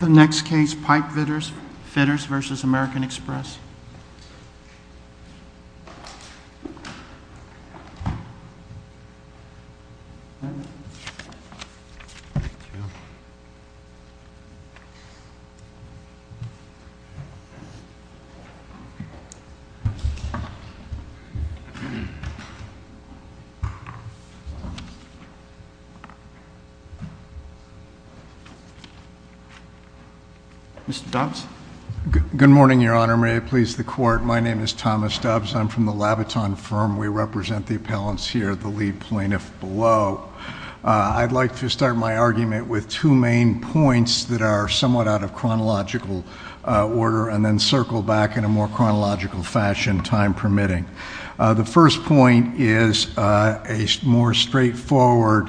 The next case, Pipefitters vs. American Express. Mr. Dobbs? Good morning, Your Honor. May it please the Court. My name is Thomas Dobbs. I'm from the Labaton firm. We represent the appellants here, the lead plaintiff below. I'd like to start my argument with two main points that are somewhat out of chronological order and then circle back in a more chronological fashion, time permitting. The first point is a more straightforward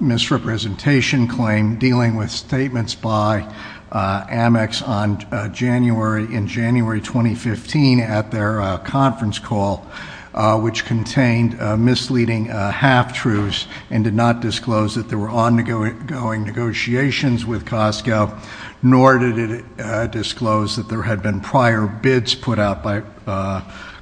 misrepresentation claim dealing with statements by Amex in January 2015 at their conference call, which contained misleading half-truths and did not disclose that there were ongoing negotiations with Costco, nor did it disclose that there had been prior bids put out by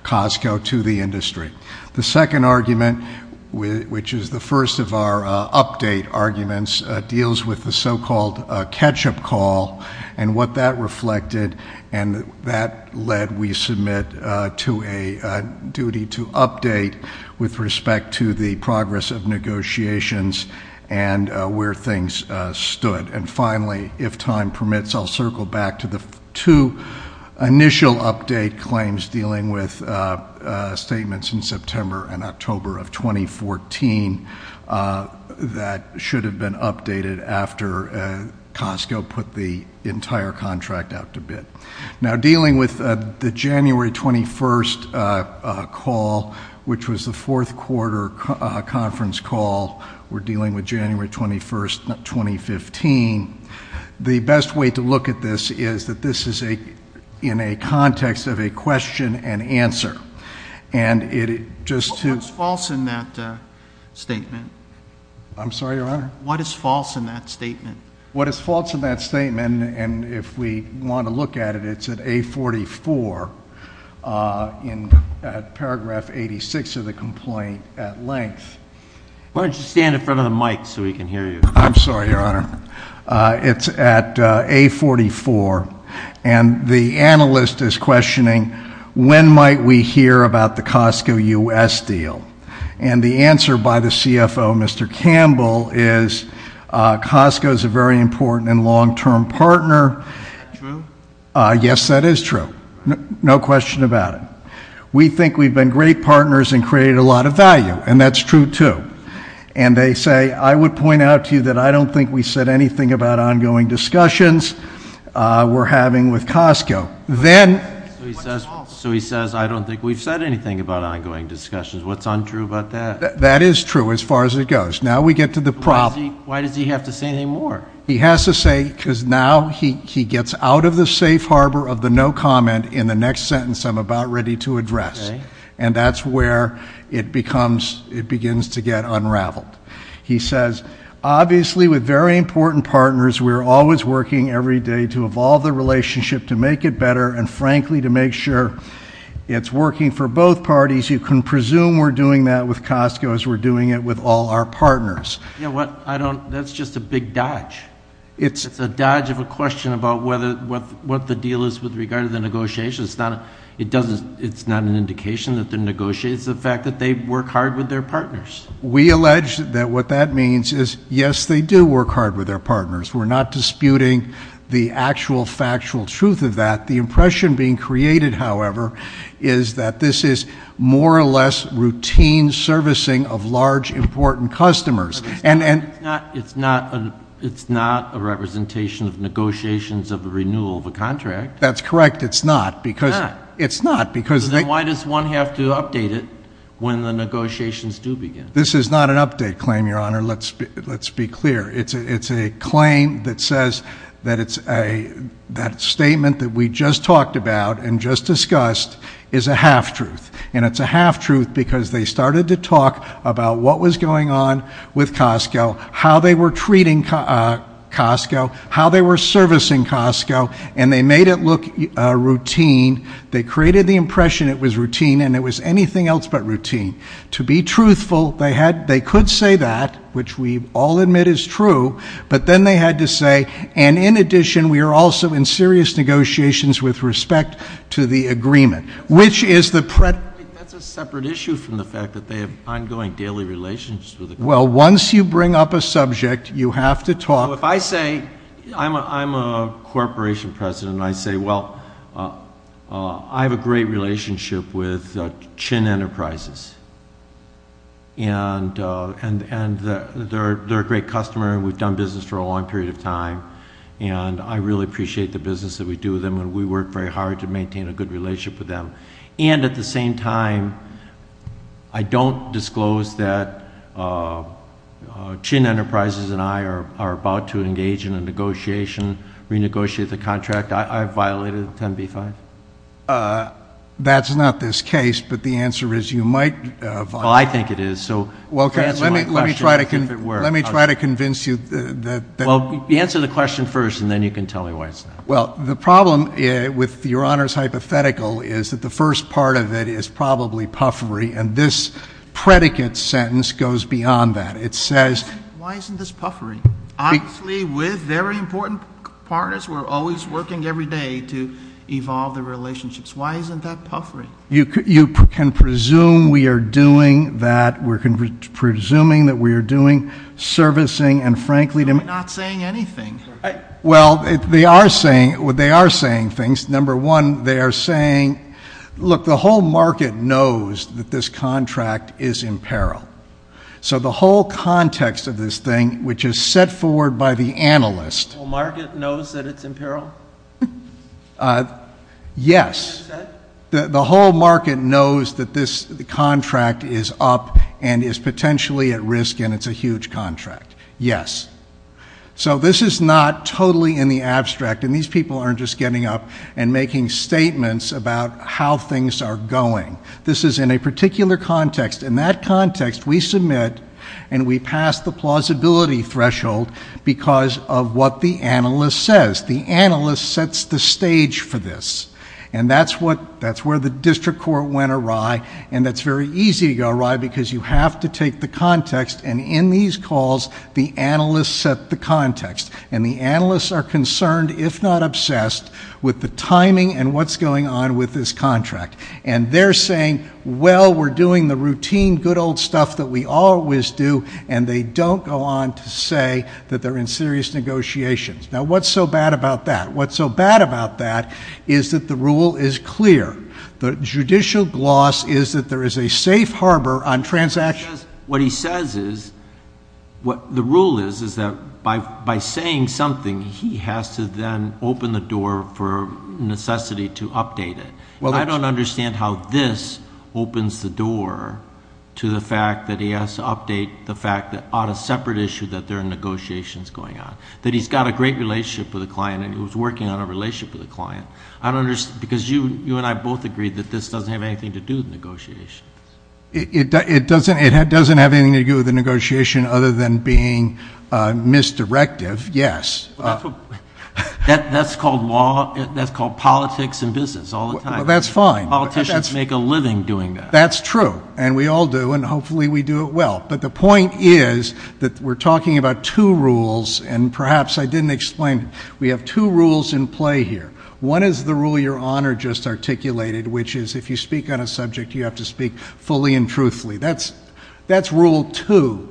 Costco to the industry. The second argument, which is the first of our update arguments, deals with the so-called catch-up call and what that reflected. And that led, we submit, to a duty to update with respect to the progress of negotiations and where things stood. And finally, if time permits, I'll circle back to the two initial update claims dealing with statements in September and October of 2014 that should have been updated after Costco put the entire contract out to bid. Now, dealing with the January 21 call, which was the fourth quarter conference call, we're dealing with January 21, 2015. The best way to look at this is that this is in a context of a question and answer. And it just to- What's false in that statement? I'm sorry, Your Honor? What is false in that statement? What is false in that statement, and if we want to look at it, it's at A44 in paragraph 86 of the complaint at length. Why don't you stand in front of the mic so we can hear you? I'm sorry, Your Honor. It's at A44. And the analyst is questioning, when might we hear about the Costco US deal? And the answer by the CFO, Mr. Campbell, is Costco is a very important and long-term partner. True? Yes, that is true. No question about it. We think we've been great partners and created a lot of value, and that's true, too. And they say, I would point out to you that I don't think we said anything about ongoing discussions we're having with Costco. Then what's false? So he says, I don't think we've said anything about ongoing discussions. What's untrue about that? That is true, as far as it goes. Now we get to the problem. Why does he have to say any more? He has to say, because now he gets out of the safe harbor of the no comment in the next sentence I'm about ready to address. And that's where it begins to get unraveled. He says, obviously, with very important partners, we're always working every day to evolve the relationship, to make it better, and frankly, to make sure it's working for both parties. You can presume we're doing that with Costco as we're doing it with all our partners. You know what? That's just a big dodge. It's a dodge of a question about what the deal is with regard to the negotiations. It's not an indication that they're negotiating. It's the fact that they work hard with their partners. We allege that what that means is, yes, they do work hard with their partners. We're not disputing the actual factual truth of that. The impression being created, however, is that this is more or less routine servicing of large, important customers. It's not a representation of negotiations of the renewal of a contract. That's correct. It's not, because it's not, because they Why does one have to update it when the negotiations do begin? This is not an update claim, Your Honor. Let's be clear. It's a claim that says that that statement that we just talked about and just discussed is a half-truth. And it's a half-truth because they started to talk about what was going on with Costco, how they were treating Costco, how they were servicing Costco. And they made it look routine. They created the impression it was routine, and it was anything else but routine. To be truthful, they could say that, which we all admit is true. But then they had to say, and in addition, we are also in serious negotiations with respect to the agreement, which is the predict. That's a separate issue from the fact that they have ongoing daily relations with the company. Well, once you bring up a subject, you have to talk. If I say, I'm a corporation president, and I say, well, I have a great relationship with Chin Enterprises. And they're a great customer, and we've done business for a long period of time. And I really appreciate the business that we do with them, and we work very hard to maintain a good relationship with them. And at the same time, I don't disclose that Chin Enterprises and I are about to engage in a negotiation, renegotiate the contract. I violated 10b-5. That's not this case, but the answer is you might violate it. Well, I think it is. So answer my question if it were. Let me try to convince you that. Well, answer the question first, and then you can tell me why it's not. Well, the problem with Your Honor's hypothetical is that the first part of it is probably puffery. And this predicate sentence goes beyond that. It says, why isn't this puffery? Obviously, with very important partners who are always working every day to evolve the relationships. Why isn't that puffery? You can presume we are doing that. We're presuming that we are doing servicing, and frankly to me, not saying anything. Well, they are saying things. Number one, they are saying, look, the whole market knows that this contract is in peril. So the whole context of this thing, which is set forward by the analyst. The whole market knows that it's in peril? Yes. The whole market knows that this contract is up and is potentially at risk, and it's a huge contract. Yes. So this is not totally in the abstract. And these people aren't just getting up and making statements about how things are going. This is in a particular context. In that context, we submit and we pass the plausibility threshold because of what the analyst says. The analyst sets the stage for this. And that's where the district court went awry. And that's very easy to go awry because you have to take the context. And in these calls, the analyst set the context. And the analysts are concerned, if not obsessed, with the timing and what's going on with this contract. And they're saying, well, we're doing the routine good old stuff that we always do. And they don't go on to say that they're in serious negotiations. Now, what's so bad about that? What's so bad about that is that the rule is clear. The judicial gloss is that there is a safe harbor on transactions. What he says is, what the rule is, is that by saying something, he has to then open the door for necessity to update it. I don't understand how this opens the door to the fact that he has to update the fact that on a separate issue That he's got a great relationship with a client and he was working on a relationship with a client. Because you and I both agree that this doesn't have anything to do with negotiations. It doesn't have anything to do with the negotiation other than being misdirective, yes. That's called politics and business all the time. That's fine. Politicians make a living doing that. That's true. And we all do. And hopefully, we do it well. But the point is that we're talking about two rules. And perhaps I didn't explain it. We have two rules in play here. One is the rule Your Honor just articulated, which is if you speak on a subject, you have to speak fully and truthfully. That's rule two.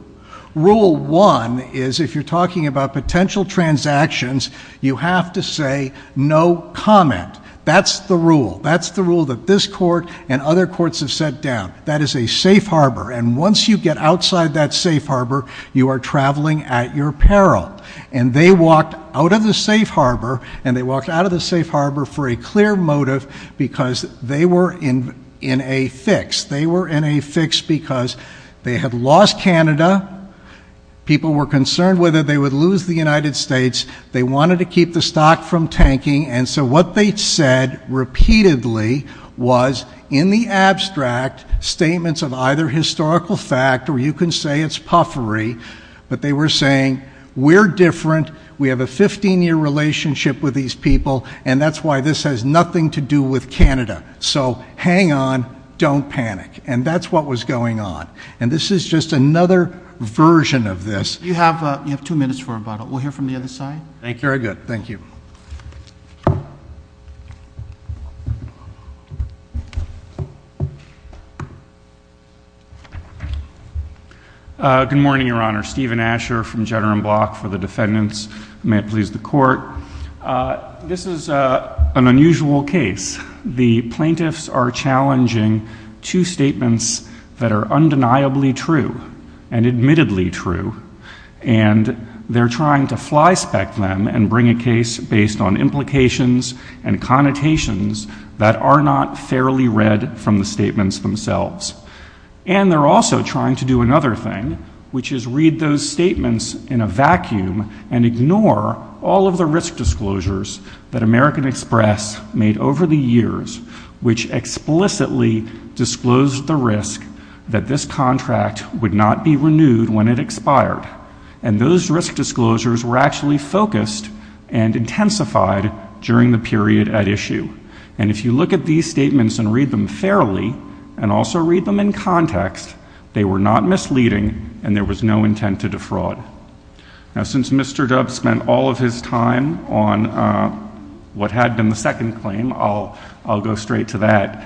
Rule one is if you're talking about potential transactions, you have to say no comment. That's the rule. That's the rule that this court and other courts have set down. That is a safe harbor. And once you get outside that safe harbor, you are traveling at your peril. And they walked out of the safe harbor. And they walked out of the safe harbor for a clear motive because they were in a fix. They were in a fix because they had lost Canada. People were concerned whether they would lose the United States. They wanted to keep the stock from tanking. And so what they said repeatedly was, in the abstract, statements of either historical fact, or you can say it's puffery. But they were saying, we're different. We have a 15-year relationship with these people. And that's why this has nothing to do with Canada. So hang on. Don't panic. And that's what was going on. And this is just another version of this. You have two minutes for about it. We'll hear from the other side. Thank you very good. Thank you. Thank you. Good morning, Your Honor. Stephen Asher from Jenner and Block for the defendants. May it please the court. This is an unusual case. The plaintiffs are challenging two statements that are undeniably true and admittedly true. And they're trying to fly spec them and bring a case based on implications and connotations that are not fairly read from the statements themselves. And they're also trying to do another thing, which is read those statements in a vacuum and ignore all of the risk disclosures that American Express made over the years, which explicitly disclosed the risk that this contract would not be renewed when it expired. And those risk disclosures were actually focused and intensified during the period at issue. And if you look at these statements and read them fairly, and also read them in context, they were not misleading. And there was no intent to defraud. Now, since Mr. Dubbs spent all of his time on what had been the second claim, I'll go straight to that.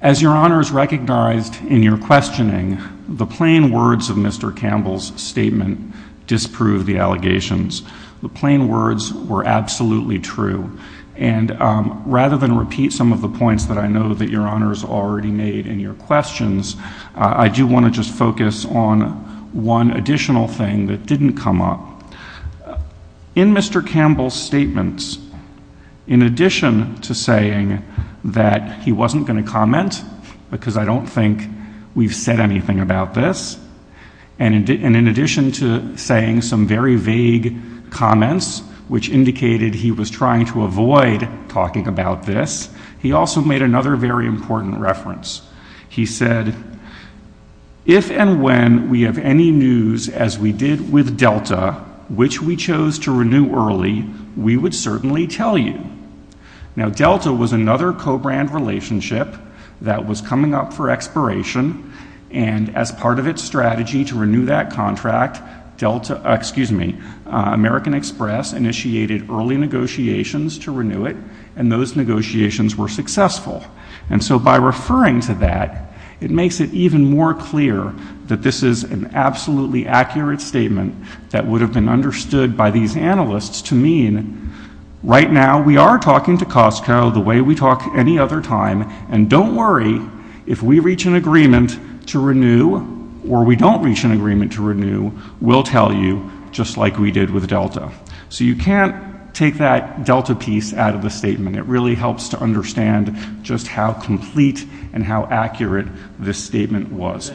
As Your Honors recognized in your questioning, the plain words of Mr. Campbell's statement disprove the allegations. The plain words were absolutely true. And rather than repeat some of the points that I know that Your Honors already made in your questions, I do want to just focus on one additional thing that didn't come up. In Mr. Campbell's statements, in addition to saying that he wasn't going to comment, because I don't think we've said anything about this, and in addition to saying some very vague comments, which indicated he was trying to avoid talking about this, he also made another very important reference. He said, if and when we have any news, as we did with Delta, which we chose to renew early, we would certainly tell you. Now, Delta was another co-brand relationship that was coming up for expiration, and as part of its strategy to renew that contract, Delta, excuse me, American Express initiated early negotiations to renew it, and those negotiations were successful. And so by referring to that, it makes it even more clear that this is an absolutely accurate statement that would have been understood by these analysts to mean, right now, we are talking to Costco the way we talk any other time, and don't worry, if we reach an agreement to renew, or we don't reach an agreement to renew, we'll tell you, just like we did with Delta. So you can't take that Delta piece out of the statement. It really helps to understand just how complete and how accurate this statement was.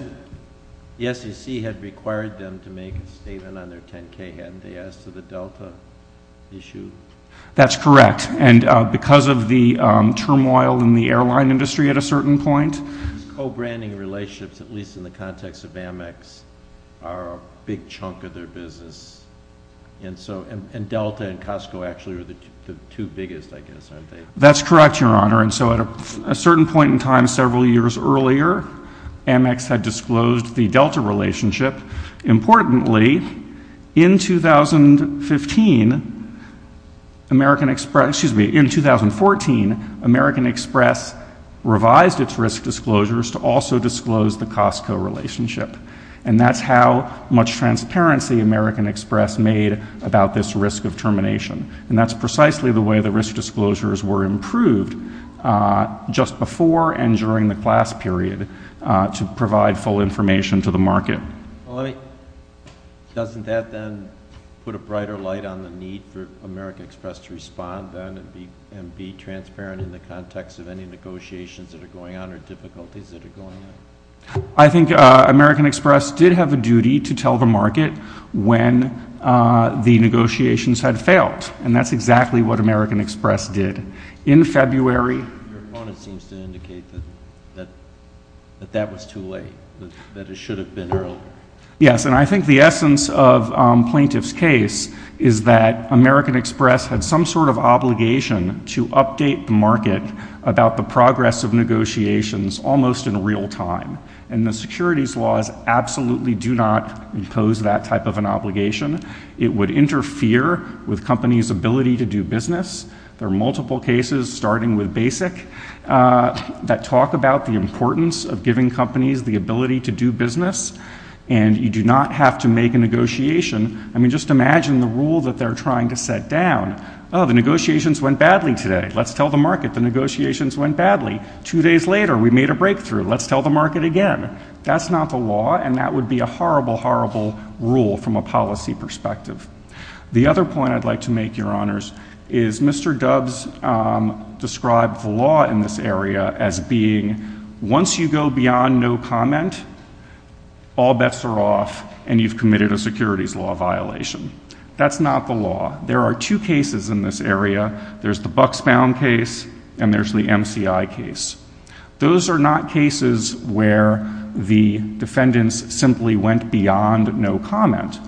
The SEC had required them to make a statement on their 10K MDS to the Delta issue. That's correct, and because of the turmoil in the airline industry at a certain point. Co-branding relationships, at least in the context of Amex, are a big chunk of their business, and Delta and Costco actually are the two biggest, I guess, aren't they? That's correct, Your Honor, and so at a certain point in time, several years earlier, Amex had disclosed the Delta relationship. Importantly, in 2015, American Express, excuse me, in 2014, American Express revised its risk disclosures to also disclose the Costco relationship, and that's how much transparency American Express made about this risk of termination, and that's precisely the way the risk disclosures were improved just before and during the class period to provide full information to the market. Doesn't that then put a brighter light on the need for American Express to respond then and be transparent in the context of any negotiations that are going on or difficulties that are going on? I think American Express did have a duty to tell the market when the negotiations had failed, and that's exactly what American Express did. In February. Your opponent seems to indicate that that was too late, that it should have been earlier. Yes, and I think the essence of Plaintiff's case is that American Express had some sort of obligation to update the market about the progress of negotiations almost in real time, and the securities laws absolutely do not impose that type of an obligation. It would interfere with companies' ability to do business. There are multiple cases, starting with BASIC, that talk about the importance of giving companies the ability to do business, and you do not have to make a negotiation. I mean, just imagine the rule that they're trying to set down. Oh, the negotiations went badly today. Let's tell the market the negotiations went badly. Two days later, we made a breakthrough. Let's tell the market again. That's not the law, and that would be a horrible, horrible rule from a policy perspective. The other point I'd like to make, Your Honors, is Mr. Dubs described the law in this area as being once you go beyond no comment, all bets are off, and you've committed a securities law violation. That's not the law. There are two cases in this area. There's the Bucksbaum case, and there's the MCI case. Those are not cases where the defendants simply went beyond no comment.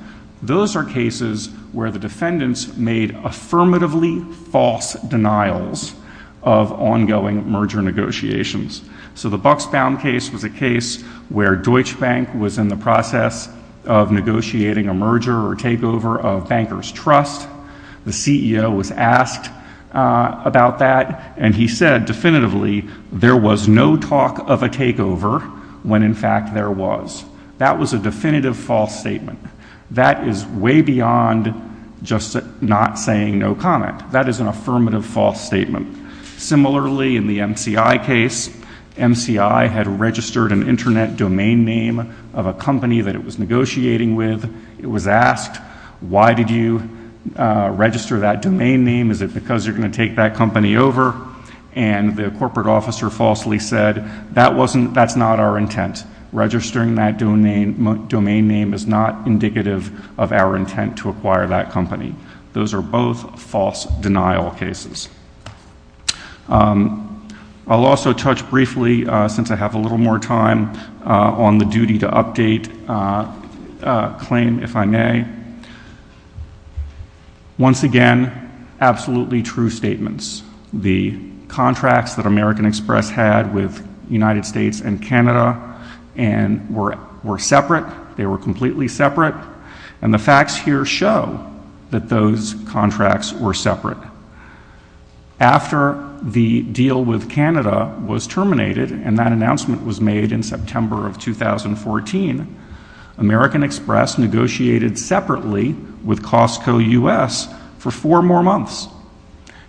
Those are cases where the defendants made affirmatively false denials of ongoing merger negotiations. So the Bucksbaum case was a case where Deutsche Bank was in the process of negotiating a merger or takeover of Banker's Trust. The CEO was asked about that, and he said, definitively, there was no talk of a takeover when, in fact, there was. That was a definitive false statement. That is way beyond just not saying no comment. That is an affirmative false statement. Similarly, in the MCI case, MCI had registered an internet domain name of a company that it was negotiating with. It was asked, why did you register that domain name? Is it because you're gonna take that company over? And the corporate officer falsely said, that's not our intent. Registering that domain name is not indicative of our intent to acquire that company. Those are both false denial cases. I'll also touch briefly, since I have a little more time, on the duty to update claim, if I may. Once again, absolutely true statements. The contracts that American Express had with United States and Canada were separate. They were completely separate. And the facts here show that those contracts were separate. After the deal with Canada was terminated, and that announcement was made in September of 2014, American Express negotiated separately with Costco US for four more months.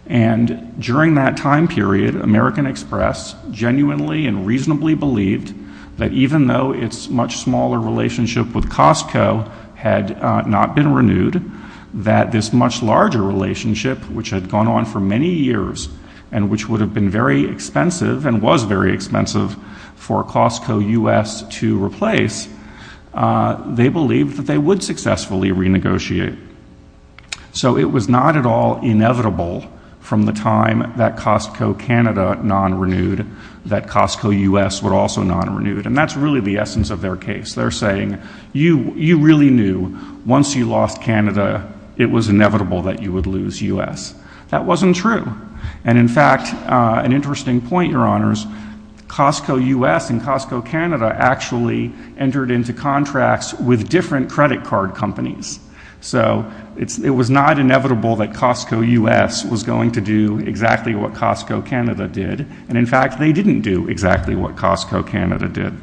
And during that time period, American Express genuinely and reasonably believed that even though its much smaller relationship with Costco had not been renewed, that this much larger relationship, which had gone on for many years, and which would have been very expensive, and was very expensive for Costco US to replace, they believed that they would successfully renegotiate. So it was not at all inevitable from the time that Costco Canada non-renewed, that Costco US would also non-renewed. And that's really the essence of their case. They're saying, you really knew once you lost Canada, it was inevitable that you would lose US. That wasn't true. And in fact, an interesting point, your honors, Costco US and Costco Canada actually entered into contracts with different credit card companies. So it was not inevitable that Costco US was going to do exactly what Costco Canada did. And in fact, they didn't do exactly what Costco Canada did.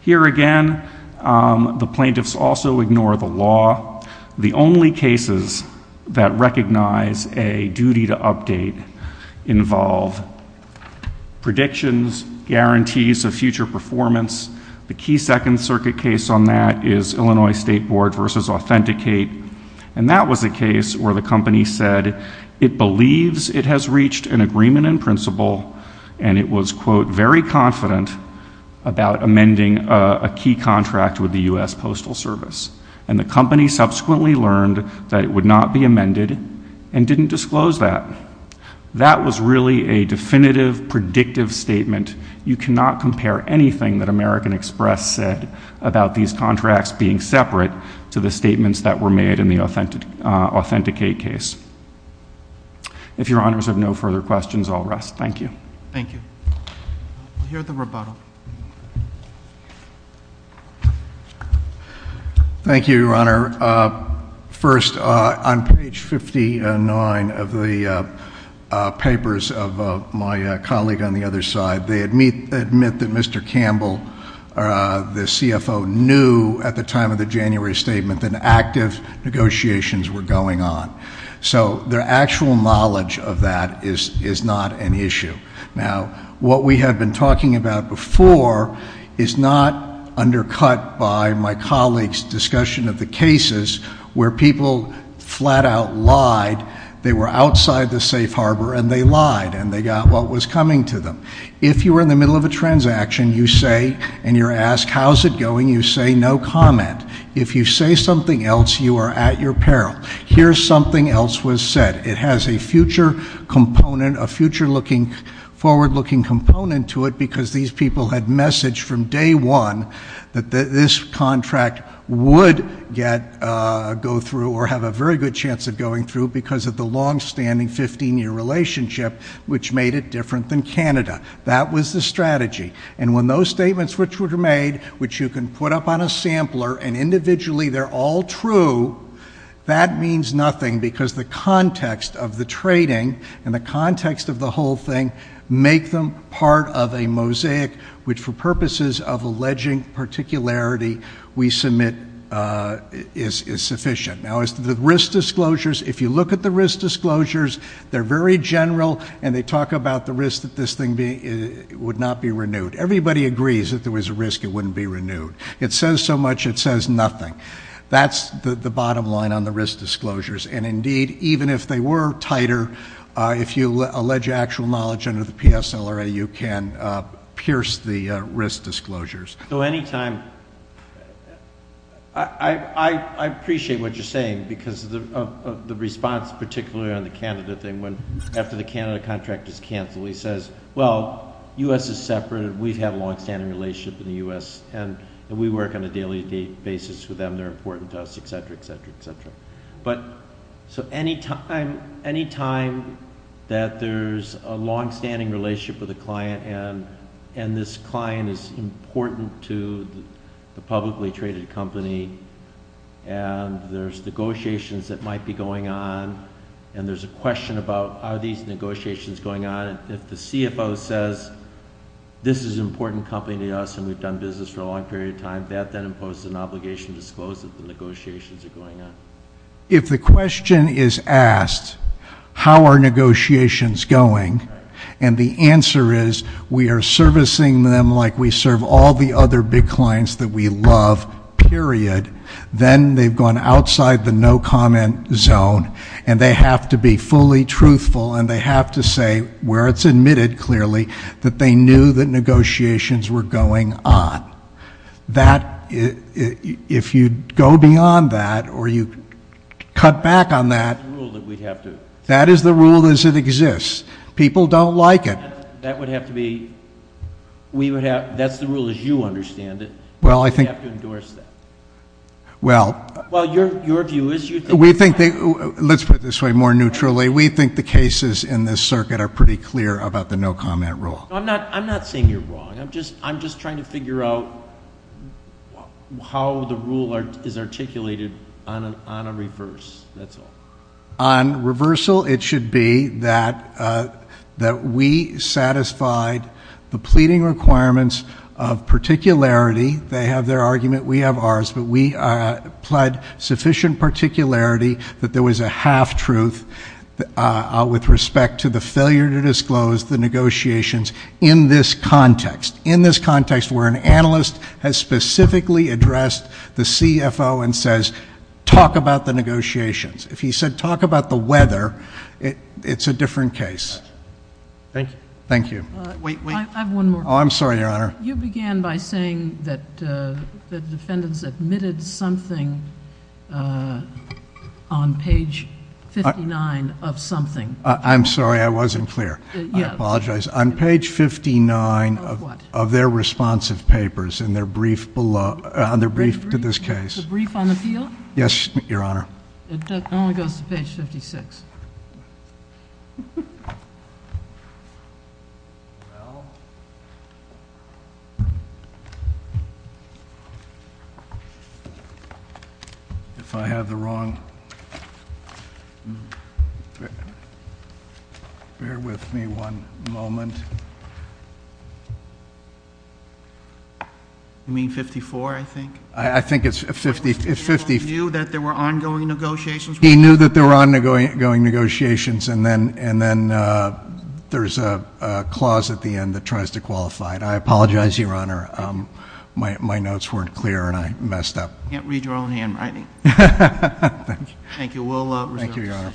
Here again, the plaintiffs also ignore the law. The only cases that recognize a duty to update involve predictions, guarantees of future performance. The key second circuit case on that is Illinois State Board versus Authenticate. And that was a case where the company said, it believes it has reached an agreement in principle, and it was, quote, very confident about amending a key contract with the US Postal Service. And the company subsequently learned that it would not be amended and didn't disclose that. That was really a definitive, predictive statement. You cannot compare anything that American Express said about these contracts being separate to the statements that were made in the Authenticate case. If your honors have no further questions, I'll rest. Thank you. Thank you. We'll hear the rebuttal. Thank you, your honor. First, on page 59 of the papers of my colleague on the other side, they admit that Mr. Campbell, the CFO, knew at the time of the January statement that active negotiations were going on. So their actual knowledge of that is not an issue. Now, what we have been talking about before is not undercut by my colleague's discussion of the cases where people flat out lied. They were outside the safe harbor, and they lied, and they got what was coming to them. If you were in the middle of a transaction, you say, and you're asked, how's it going? You say, no comment. If you say something else, you are at your peril. Here's something else was said. It has a future component, a future-looking, forward-looking component to it because these people had messaged from day one that this contract would go through or have a very good chance of going through because of the longstanding 15-year relationship which made it different than Canada. That was the strategy. And when those statements which were made, which you can put up on a sampler, and individually they're all true, that means nothing because the context of the trading and the context of the whole thing make them part of a mosaic which for purposes of alleging particularity we submit is sufficient. Now, as to the risk disclosures, if you look at the risk disclosures, they're very general, and they talk about the risk that this thing would not be renewed. Everybody agrees if there was a risk, it wouldn't be renewed. It says so much, it says nothing. That's the bottom line on the risk disclosures. And indeed, even if they were tighter, if you allege actual knowledge under the PSLRA, you can pierce the risk disclosures. So anytime, I appreciate what you're saying because of the response, particularly on the Canada thing, after the Canada contract is canceled, he says, well, U.S. is separate and we've had a longstanding relationship in the U.S. and we work on a daily basis with them, they're important to us, et cetera, et cetera, et cetera. But so anytime that there's a longstanding relationship with a client and this client is important to the publicly traded company and there's negotiations that might be going on and there's a question about are these negotiations going on, if the CFO says this is an important company to us and we've done business for a long period of time, that then imposes an obligation to disclose that the negotiations are going on. If the question is asked, how are negotiations going? And the answer is, we are servicing them like we serve all the other big clients that we love, period. Then they've gone outside the no comment zone and they have to be fully truthful and they have to say where it's admitted clearly that they knew that negotiations were going on. That, if you go beyond that or you cut back on that, that is the rule as it exists. People don't like it. That would have to be, that's the rule as you understand it. Well, I think. You have to endorse that. Well. Well, your view is you think. We think, let's put it this way more neutrally, we think the cases in this circuit are pretty clear about the no comment rule. I'm not saying you're wrong. I'm just trying to figure out how the rule is articulated on a reverse, that's all. On reversal, it should be that we satisfied the pleading requirements of particularity. They have their argument, we have ours, but we pled sufficient particularity that there was a half truth with respect to the failure to disclose the negotiations in this context. In this context where an analyst has specifically addressed the CFO and says talk about the negotiations. If he said talk about the weather, it's a different case. Thank you. Thank you. Wait, wait. I have one more. Oh, I'm sorry, your honor. You began by saying that the defendants admitted something on page 59 of something. I'm sorry, I wasn't clear. I apologize. On page 59 of their responsive papers in their brief to this case. The brief on the field? Yes, your honor. It only goes to page 56. If I have the wrong, bear with me one moment. You mean 54, I think? I think it's 50. The defendant knew that there were ongoing negotiations? He knew that there were ongoing negotiations and then there's a clause at the end that tries to qualify it. I apologize, your honor. My notes weren't clear and I messed up. Can't read your own handwriting. Thank you. Thank you. Thank you, your honor.